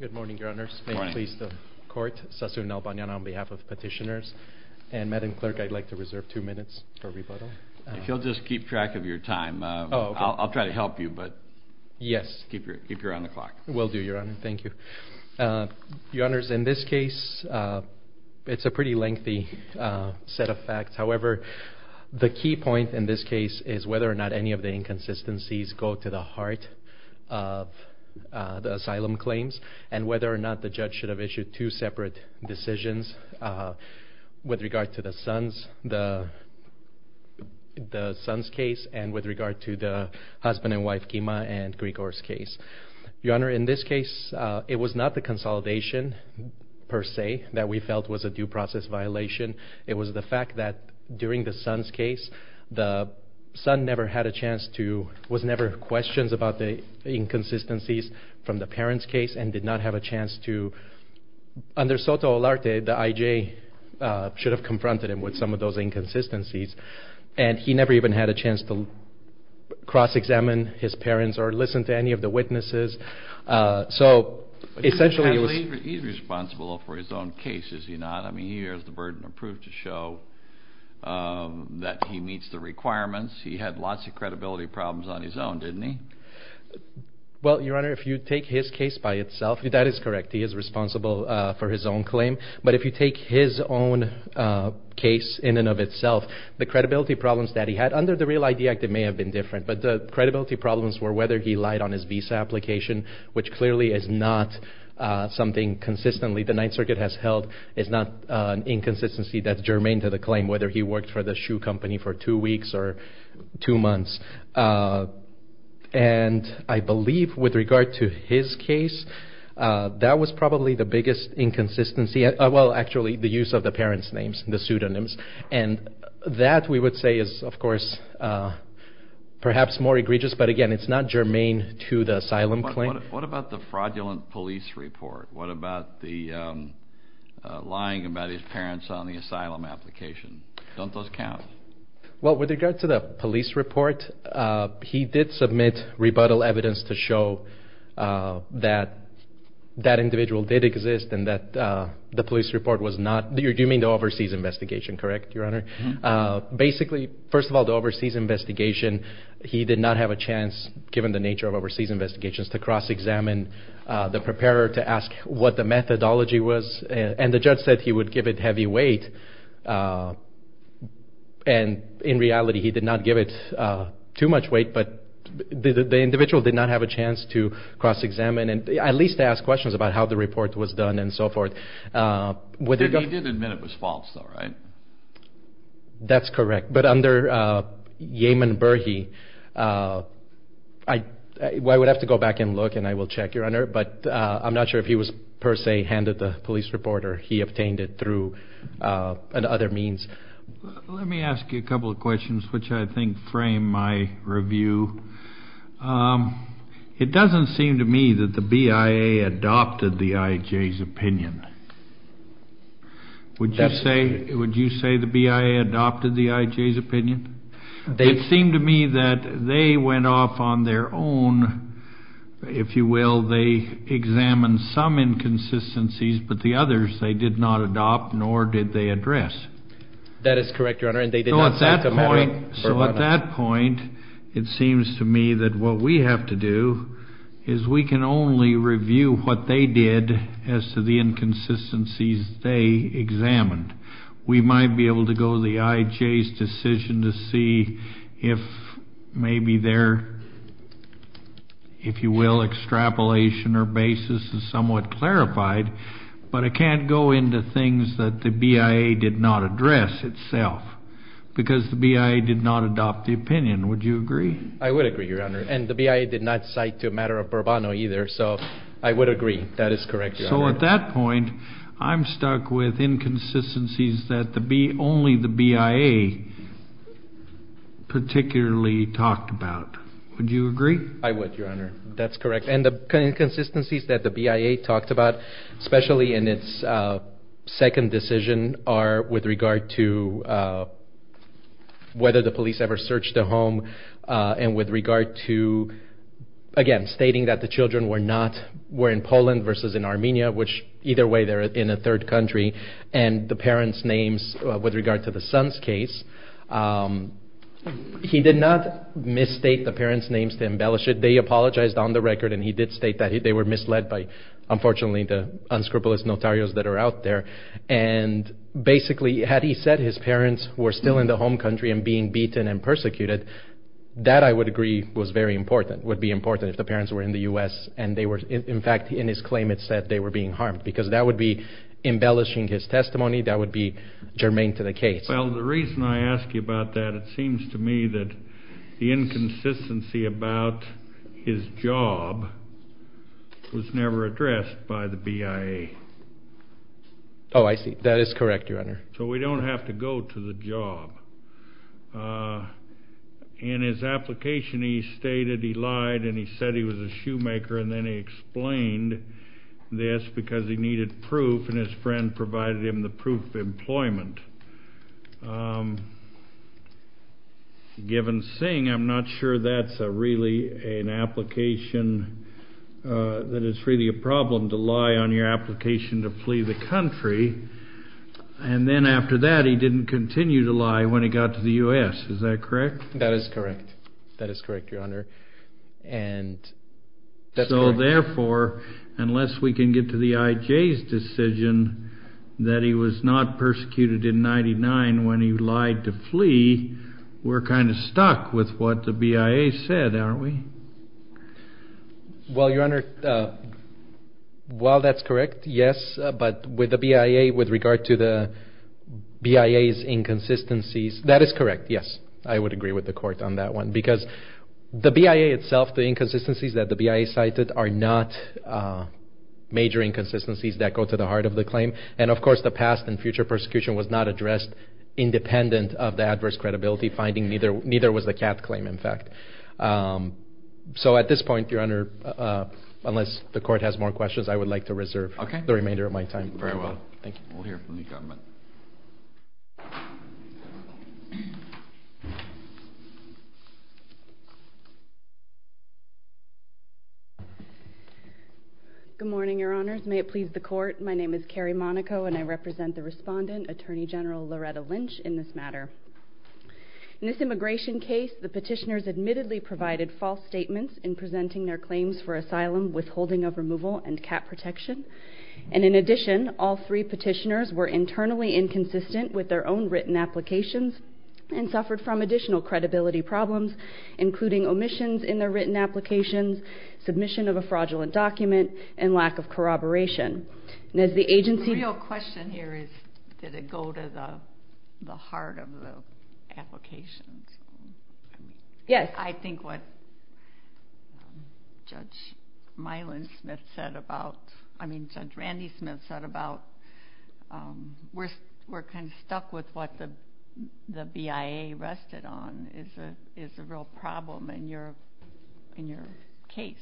Good morning, Your Honors. Good morning. May it please the Court, Sassoon Nalbanyan on behalf of Petitioners and Madam Clerk, I'd like to reserve two minutes for rebuttal. If you'll just keep track of your time, I'll try to help you, but keep your on the clock. Will do, Your Honor. Thank you. Your Honors, in this case, it's a pretty lengthy set of facts. However, the key point in this case is whether or not any of the inconsistencies go to the asylum claims, and whether or not the judge should have issued two separate decisions with regard to the son's case and with regard to the husband and wife, Kima and Grigor's case. Your Honor, in this case, it was not the consolidation, per se, that we felt was a due process violation. It was the fact that during the son's case, the son never had a chance to, was never questioned about the inconsistencies from the parent's case and did not have a chance to, under Soto Olarte, the I.J. should have confronted him with some of those inconsistencies, and he never even had a chance to cross-examine his parents or listen to any of the witnesses. So essentially, it was... He's responsible for his own case, is he not? I mean, he has the burden of proof to show that he meets the requirements. He had lots of credibility problems on his own, didn't he? Well, Your Honor, if you take his case by itself, that is correct. He is responsible for his own claim. But if you take his own case in and of itself, the credibility problems that he had under the REAL-ID Act, it may have been different, but the credibility problems were whether he lied on his visa application, which clearly is not something consistently the Ninth Circuit has held. It's not an inconsistency that's germane to the claim, whether he worked for the shoe company for two weeks or two months. And I believe, with regard to his case, that was probably the biggest inconsistency. Well, actually, the use of the parents' names, the pseudonyms. And that, we would say, is, of course, perhaps more egregious, but again, it's not germane to the asylum claim. What about the fraudulent police report? What about the lying about his parents on the asylum application? Don't those count? Well, with regard to the police report, he did submit rebuttal evidence to show that that individual did exist, and that the police report was not... You mean the overseas investigation, correct, Your Honor? Basically, first of all, the overseas investigation, he did not have a chance, given the nature of overseas investigations, to cross-examine the preparer to ask what the methodology was. And the judge said he would give it heavy weight. And in reality, he did not give it too much weight, but the individual did not have a chance to cross-examine, and at least to ask questions about how the report was done and so forth. He did admit it was false, though, right? That's correct. But under Yeaman Berhe, I would have to go back and look, and I will check, Your Honor, but I'm not sure if he was, per se, handed the police report, or he obtained it through another means. Let me ask you a couple of questions, which I think frame my review. It doesn't seem to me that the BIA adopted the IJ's opinion. Would you say the BIA adopted the IJ's opinion? It seemed to me that they went off on their own, if you will. They examined some inconsistencies, but the others, they did not adopt, nor did they address. That is correct, Your Honor, and they did not talk about it. So at that point, it seems to me that what we have to do is we can only review what they did as to the inconsistencies they examined. We might be able to go to the IJ's decision to see if maybe their, if you will, extrapolation or basis is somewhat clarified, but I can't go into things that the BIA did not address itself, because the BIA did not adopt the opinion. Would you agree? I would agree, Your Honor, and the BIA did not cite to a matter of Bourbano either, so I would agree. That is correct, Your Honor. So at that point, I'm stuck with inconsistencies that only the BIA particularly talked about. Would you agree? I would, Your Honor. That's correct. And the inconsistencies that the BIA talked about, especially in its second decision, are with regard to whether the police ever searched the home and with regard to, again, stating that the children were not, were in Poland versus in Armenia, which either way they're in a third country, and the parents' names with regard to the son's case, he did not misstate the parents' names to embellish it. They apologized on the record, and he did state that they were misled by, unfortunately, the unscrupulous notarios that are out there, and basically, had he said his parents were still in the home country and being beaten and persecuted, that I would agree was very important, would be important if the parents were in the U.S. and they were, in fact, in his claim, it said they were being harmed, because that would be embellishing his testimony. That would be germane to the case. Well, the reason I ask you about that, it seems to me that the inconsistency about his job was never addressed by the BIA. Oh, I see. That is correct, Your Honor. So we don't have to go to the job. In his application, he stated he lied, and he said he was a shoemaker, and then he explained this because he needed proof, and his friend provided him the proof of employment. Given Singh, I'm not sure that's really an application, that it's really a problem to lie on your application to flee the country, and then after that, he didn't continue to when he got to the U.S. Is that correct? That is correct. That is correct, Your Honor, and that's correct. So therefore, unless we can get to the IJ's decision that he was not persecuted in 99 when he lied to flee, we're kind of stuck with what the BIA said, aren't we? Well, Your Honor, while that's correct, yes, but with the BIA, with regard to the BIA's inconsistencies, that is correct, yes, I would agree with the court on that one because the BIA itself, the inconsistencies that the BIA cited are not major inconsistencies that go to the heart of the claim, and of course, the past and future persecution was not addressed independent of the adverse credibility finding, neither was the cat claim, in fact. So at this point, Your Honor, unless the court has more questions, I would like to reserve the remainder of my time. Very well. Thank you. We'll hear from the government. Good morning, Your Honors. May it please the court. My name is Carrie Monaco, and I represent the respondent, Attorney General Loretta Lynch, in this matter. In this immigration case, the petitioners admittedly provided false statements in presenting their claims for asylum, withholding of removal, and cat protection, and in addition, all three petitioners were internally inconsistent with their own written applications and suffered from additional credibility problems, including omissions in their written applications, submission of a fraudulent document, and lack of corroboration, and as the agency- The real question here is, did it go to the heart of the applications? Yes. I think what Judge Myland Smith said about, I mean, Judge Randy Smith said about, we're kind of stuck with what the BIA rested on is a real problem in your case.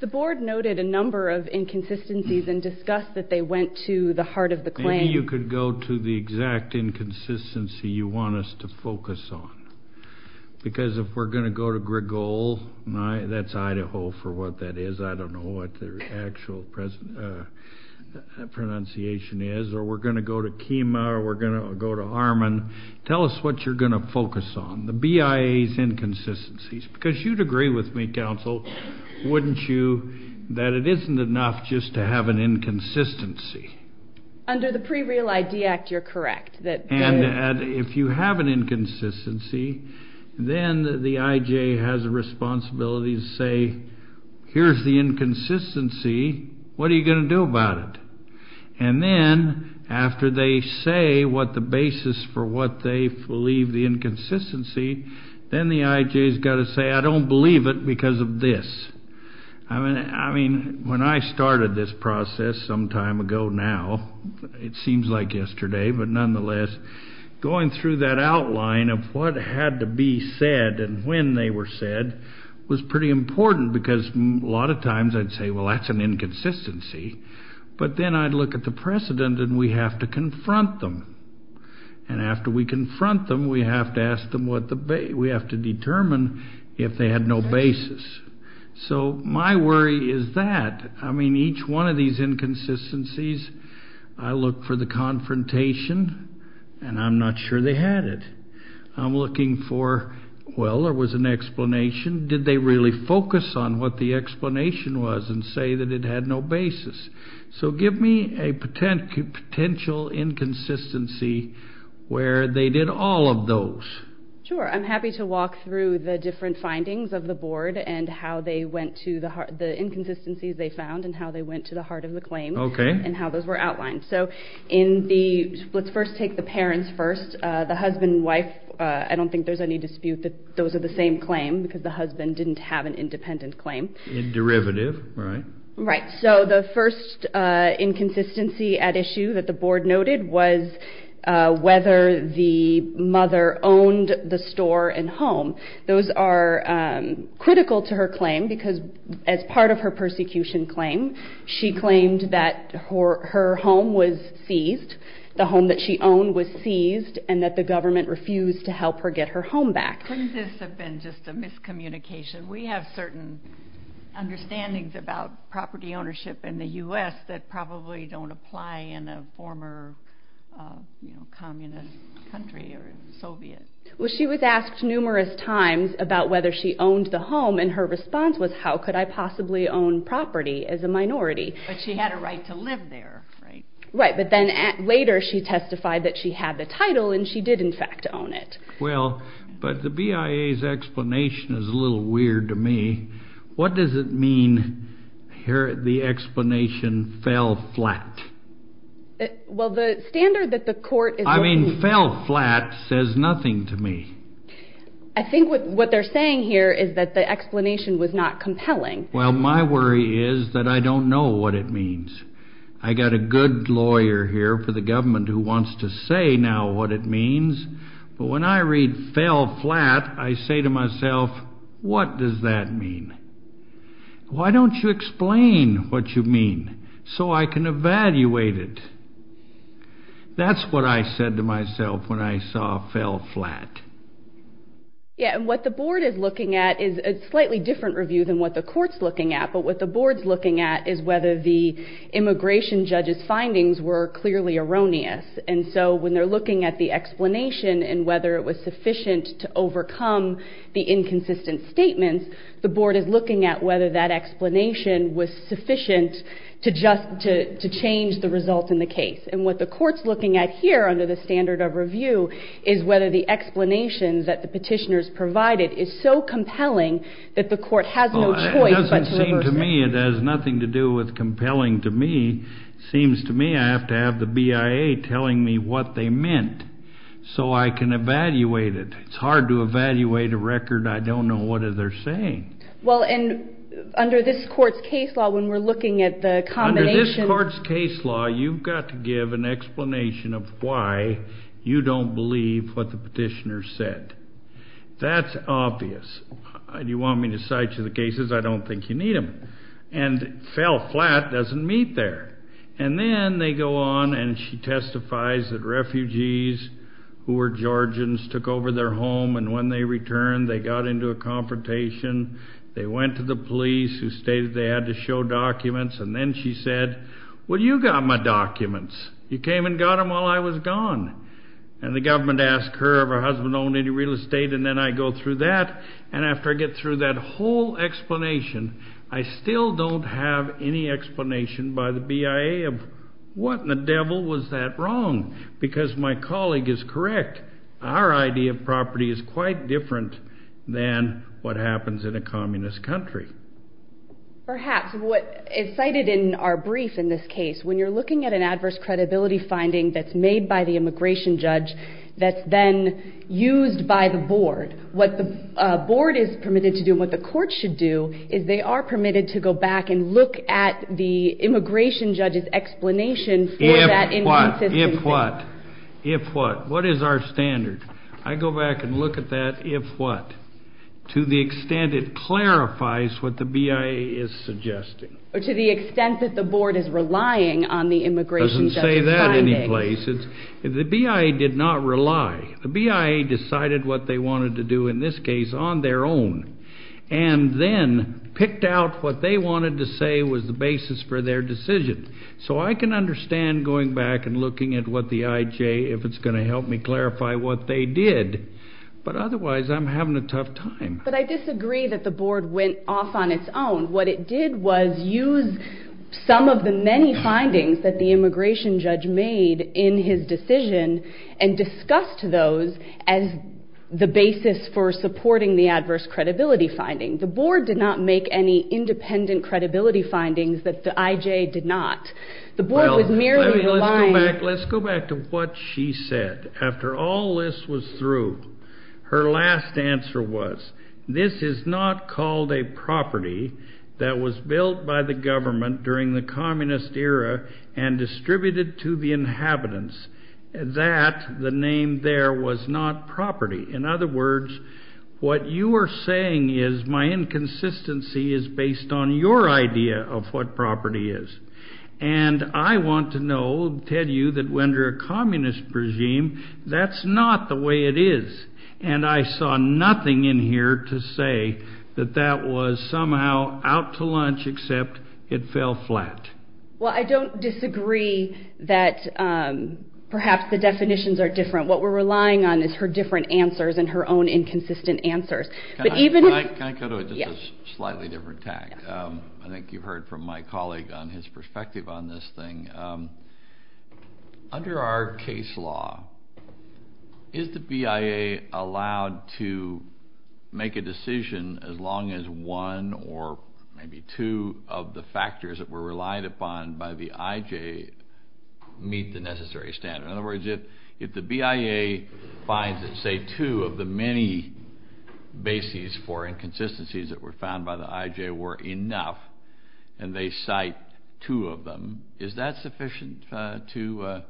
The board noted a number of inconsistencies and discussed that they went to the heart of the claim. Maybe you could go to the exact inconsistency you want us to focus on, because if we're going to go to Gregole, that's Idaho for what that is, I don't know what their actual pronunciation is, or we're going to go to Kima, or we're going to go to Harman, tell us what you're going to focus on, the BIA's inconsistencies, because you'd agree with me, counsel, wouldn't you, that it isn't enough just to have an inconsistency? Under the Pre-Real ID Act, you're correct. And if you have an inconsistency, then the IJ has a responsibility to say, here's the inconsistency, what are you going to do about it? And then, after they say what the basis for what they believe the inconsistency, then the IJ's got to say, I don't believe it because of this. I mean, when I started this process some time ago now, it seems like yesterday, but nonetheless, going through that outline of what had to be said and when they were said was pretty important because a lot of times I'd say, well, that's an inconsistency, but then I'd look at the precedent and we have to confront them. And after we confront them, we have to ask them what the basis, we have to determine if they had no basis. So my worry is that, I mean, each one of these inconsistencies, I look for the confrontation and I'm not sure they had it. I'm looking for, well, there was an explanation. Did they really focus on what the explanation was and say that it had no basis? So give me a potential inconsistency where they did all of those. Sure. I'm happy to walk through the different findings of the board and how they went to the inconsistencies they found and how they went to the heart of the claim and how those were outlined. So in the, let's first take the parents first, the husband and wife, I don't think there's any dispute that those are the same claim because the husband didn't have an independent claim. In derivative, right? Right. So the first inconsistency at issue that the board noted was whether the mother owned the store and home. Those are critical to her claim because as part of her persecution claim, she claimed that her home was seized. The home that she owned was seized and that the government refused to help her get her home back. Couldn't this have been just a miscommunication? We have certain understandings about property ownership in the U.S. that probably don't apply in a former communist country or Soviet. She was asked numerous times about whether she owned the home and her response was, how could I possibly own property as a minority? But she had a right to live there, right? Right. But then later she testified that she had the title and she did in fact own it. Well, but the BIA's explanation is a little weird to me. What does it mean here, the explanation fell flat? Well the standard that the court is looking for... I mean fell flat says nothing to me. I think what they're saying here is that the explanation was not compelling. Well, my worry is that I don't know what it means. I got a good lawyer here for the government who wants to say now what it means, but when I read fell flat, I say to myself, what does that mean? Why don't you explain what you mean so I can evaluate it? That's what I said to myself when I saw fell flat. Yeah, and what the board is looking at is a slightly different review than what the court's looking at. But what the board's looking at is whether the immigration judge's findings were clearly erroneous. And so when they're looking at the explanation and whether it was sufficient to overcome the inconsistent statements, the board is looking at whether that explanation was sufficient to change the results in the case. And what the court's looking at here under the standard of review is whether the explanations that the petitioners provided is so compelling that the court has no choice but to reverse it. Well, it doesn't seem to me it has nothing to do with compelling to me. Seems to me I have to have the BIA telling me what they meant so I can evaluate it. It's hard to evaluate a record I don't know what they're saying. Well and under this court's case law when we're looking at the combination... of an explanation of why you don't believe what the petitioner said. That's obvious. Do you want me to cite you the cases? I don't think you need them. And fell flat doesn't meet there. And then they go on and she testifies that refugees who were Georgians took over their home and when they returned they got into a confrontation. They went to the police who stated they had to show documents and then she said, well you got my documents. You came and got them while I was gone. And the government asked her if her husband owned any real estate and then I go through that and after I get through that whole explanation I still don't have any explanation by the BIA of what in the devil was that wrong? Because my colleague is correct. Our idea of property is quite different than what happens in a communist country. Perhaps what is cited in our brief in this case when you're looking at an adverse credibility finding that's made by the immigration judge that's then used by the board. What the board is permitted to do and what the court should do is they are permitted to go back and look at the immigration judge's explanation for that inconsistency. If what? If what? What is our standard? I go back and look at that if what? To the extent it clarifies what the BIA is suggesting. To the extent that the board is relying on the immigration judge's findings. It doesn't say that any place. The BIA did not rely. The BIA decided what they wanted to do in this case on their own and then picked out what they wanted to say was the basis for their decision. So I can understand going back and looking at what the IJ, if it's going to help me clarify what they did, but otherwise I'm having a tough time. But I disagree that the board went off on its own. What it did was use some of the many findings that the immigration judge made in his decision and discussed those as the basis for supporting the adverse credibility finding. The board did not make any independent credibility findings that the IJ did not. The board was merely relying. Let's go back to what she said. After all this was through, her last answer was, this is not called a property that was built by the government during the communist era and distributed to the inhabitants. That, the name there, was not property. In other words, what you are saying is my inconsistency is based on your idea of what property is. And I want to know, tell you, that under a communist regime, that's not the way it is. And I saw nothing in here to say that that was somehow out to lunch except it fell flat. Well, I don't disagree that perhaps the definitions are different. What we're relying on is her different answers and her own inconsistent answers. Can I go to a slightly different tack? I think you've heard from my colleague on his perspective on this thing. Under our case law, is the BIA allowed to make a decision as long as one or maybe two of the factors that were relied upon by the IJ meet the necessary standard? In other words, if the BIA finds that, say, two of the many bases for inconsistencies that were found by the IJ were enough, and they cite two of them, is that sufficient to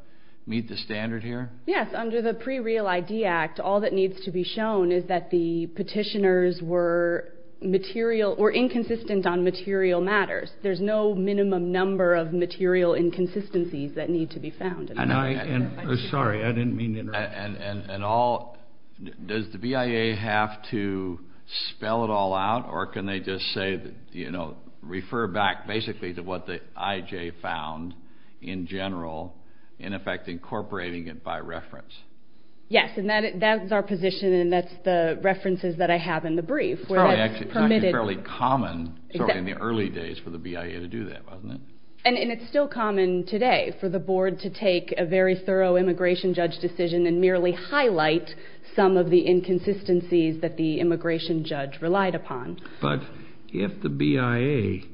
meet the standard here? Yes. Under the Pre-Real ID Act, all that needs to be shown is that the petitioners were inconsistent on material matters. There's no minimum number of material inconsistencies that need to be found. Sorry, I didn't mean to interrupt. Does the BIA have to spell it all out, or can they just say, refer back basically to what the IJ found in general, in effect incorporating it by reference? Yes. That's our position, and that's the references that I have in the brief. It's actually fairly common in the early days for the BIA to do that, wasn't it? It's still common today for the board to take a very thorough immigration judge decision and merely highlight some of the inconsistencies that the immigration judge relied upon. But if the BIA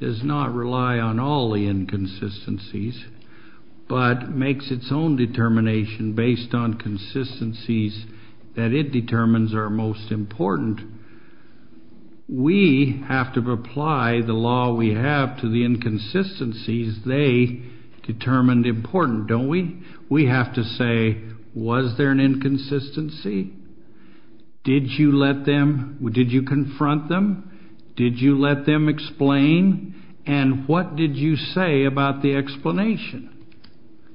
does not rely on all the inconsistencies, but makes its own determination based on consistencies that it determines are most important, we have to apply the law we have to the inconsistencies they determined important, don't we? We have to say, was there an inconsistency? Did you confront them? Did you let them explain? And what did you say about the explanation?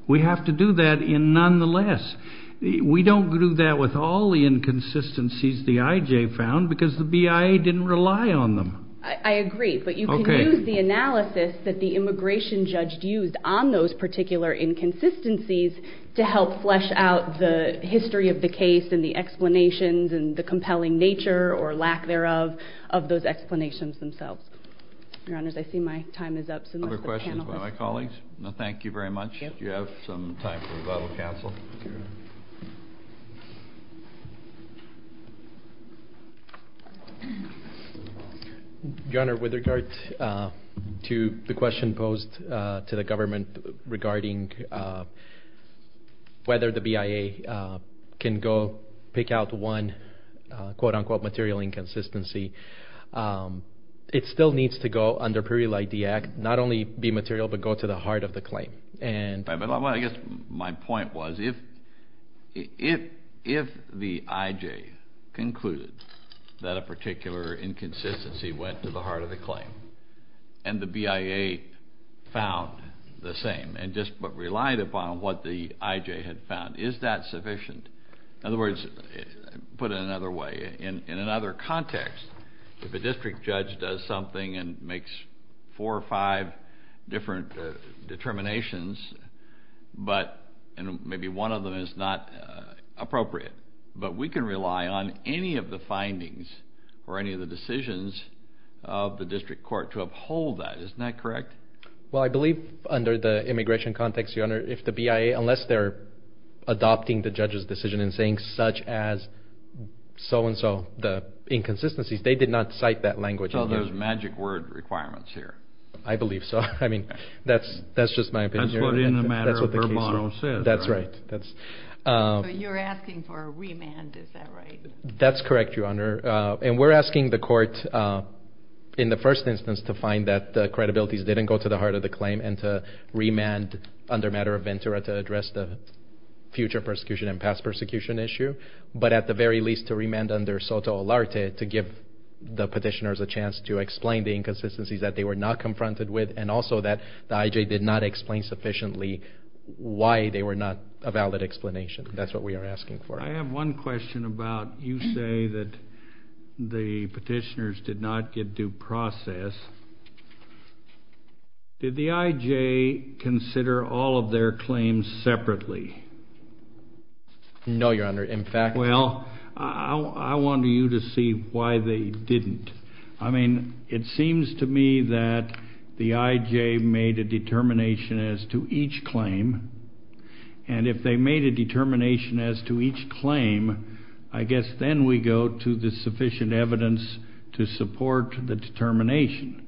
We have to do that in nonetheless. We don't do that with all the inconsistencies the IJ found, because the BIA didn't rely on them. I agree, but you can use the analysis that the immigration judge used on those particular inconsistencies to help flesh out the history of the case and the explanations and the compelling nature or lack thereof of those explanations themselves. Your Honor, I see my time is up, so let's let the panelists. Other questions by my colleagues? No, thank you very much. Do you have some time for rebuttal, counsel? Your Honor, with regard to the question posed to the government regarding whether the BIA can go pick out one, quote unquote, material inconsistency, it still needs to go under a period like the act, not only be material, but go to the heart of the claim. I guess my point was if the IJ concluded that a particular inconsistency went to the heart of the claim and the BIA found the same and just relied upon what the IJ had found, is that sufficient? In other words, put it another way, in another context, if a district judge does something and makes four or five different determinations, and maybe one of them is not appropriate, but we can rely on any of the findings or any of the decisions of the district court to uphold that. Isn't that correct? Well, I believe under the immigration context, Your Honor, if the BIA, unless they're adopting the judge's decision and saying such as so-and-so, the inconsistencies, they did not cite that language in here. So there's magic word requirements here. I believe so. I mean, that's just my opinion. That's what in the matter of verbatim says, right? That's right. You're asking for a remand, is that right? That's correct, Your Honor. And we're asking the court in the first instance to find that the credibilities didn't go to the heart of the claim and to remand under matter of ventura to address the future persecution and past persecution issue, but at the very least to remand under soto alarte to give the petitioners a chance to explain the inconsistencies that they were not confronted with and also that the IJ did not explain sufficiently why they were not a valid explanation. That's what we are asking for. I have one question about you say that the petitioners did not get due process. Did the IJ consider all of their claims separately? No, Your Honor. Well, I want you to see why they didn't. I mean, it seems to me that the IJ made a determination as to each claim, and if they made a determination as to each claim, I guess then we go to the sufficient evidence to support the determination.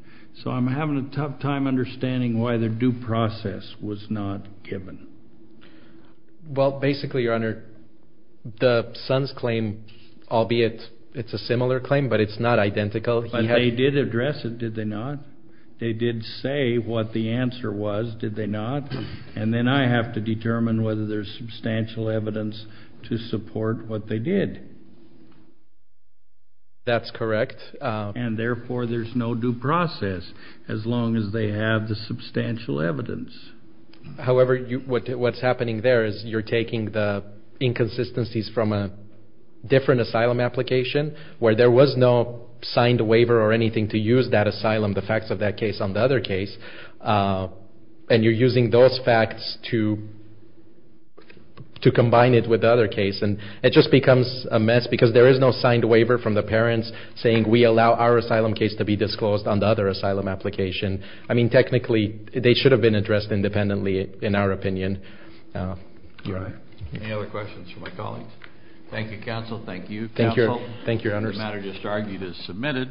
So I'm having a tough time understanding why the due process was not given. Well, basically, Your Honor, the son's claim, albeit it's a similar claim, but it's not identical. But they did address it, did they not? They did say what the answer was, did they not? And then I have to determine whether there's substantial evidence to support what they did. That's correct. And therefore, there's no due process as long as they have the substantial evidence. However, what's happening there is you're taking the inconsistencies from a different asylum application where there was no signed waiver or anything to use that asylum, the facts of that case on the other case, and you're using those facts to combine it with the other case. And it just becomes a mess because there is no signed waiver from the parents saying we allow our asylum case to be disclosed on the other asylum application. I mean, technically, they should have been addressed independently, in our opinion. All right. Any other questions for my colleagues? Thank you, counsel. Thank you, counsel. Thank you, Your Honor. The matter just argued is submitted.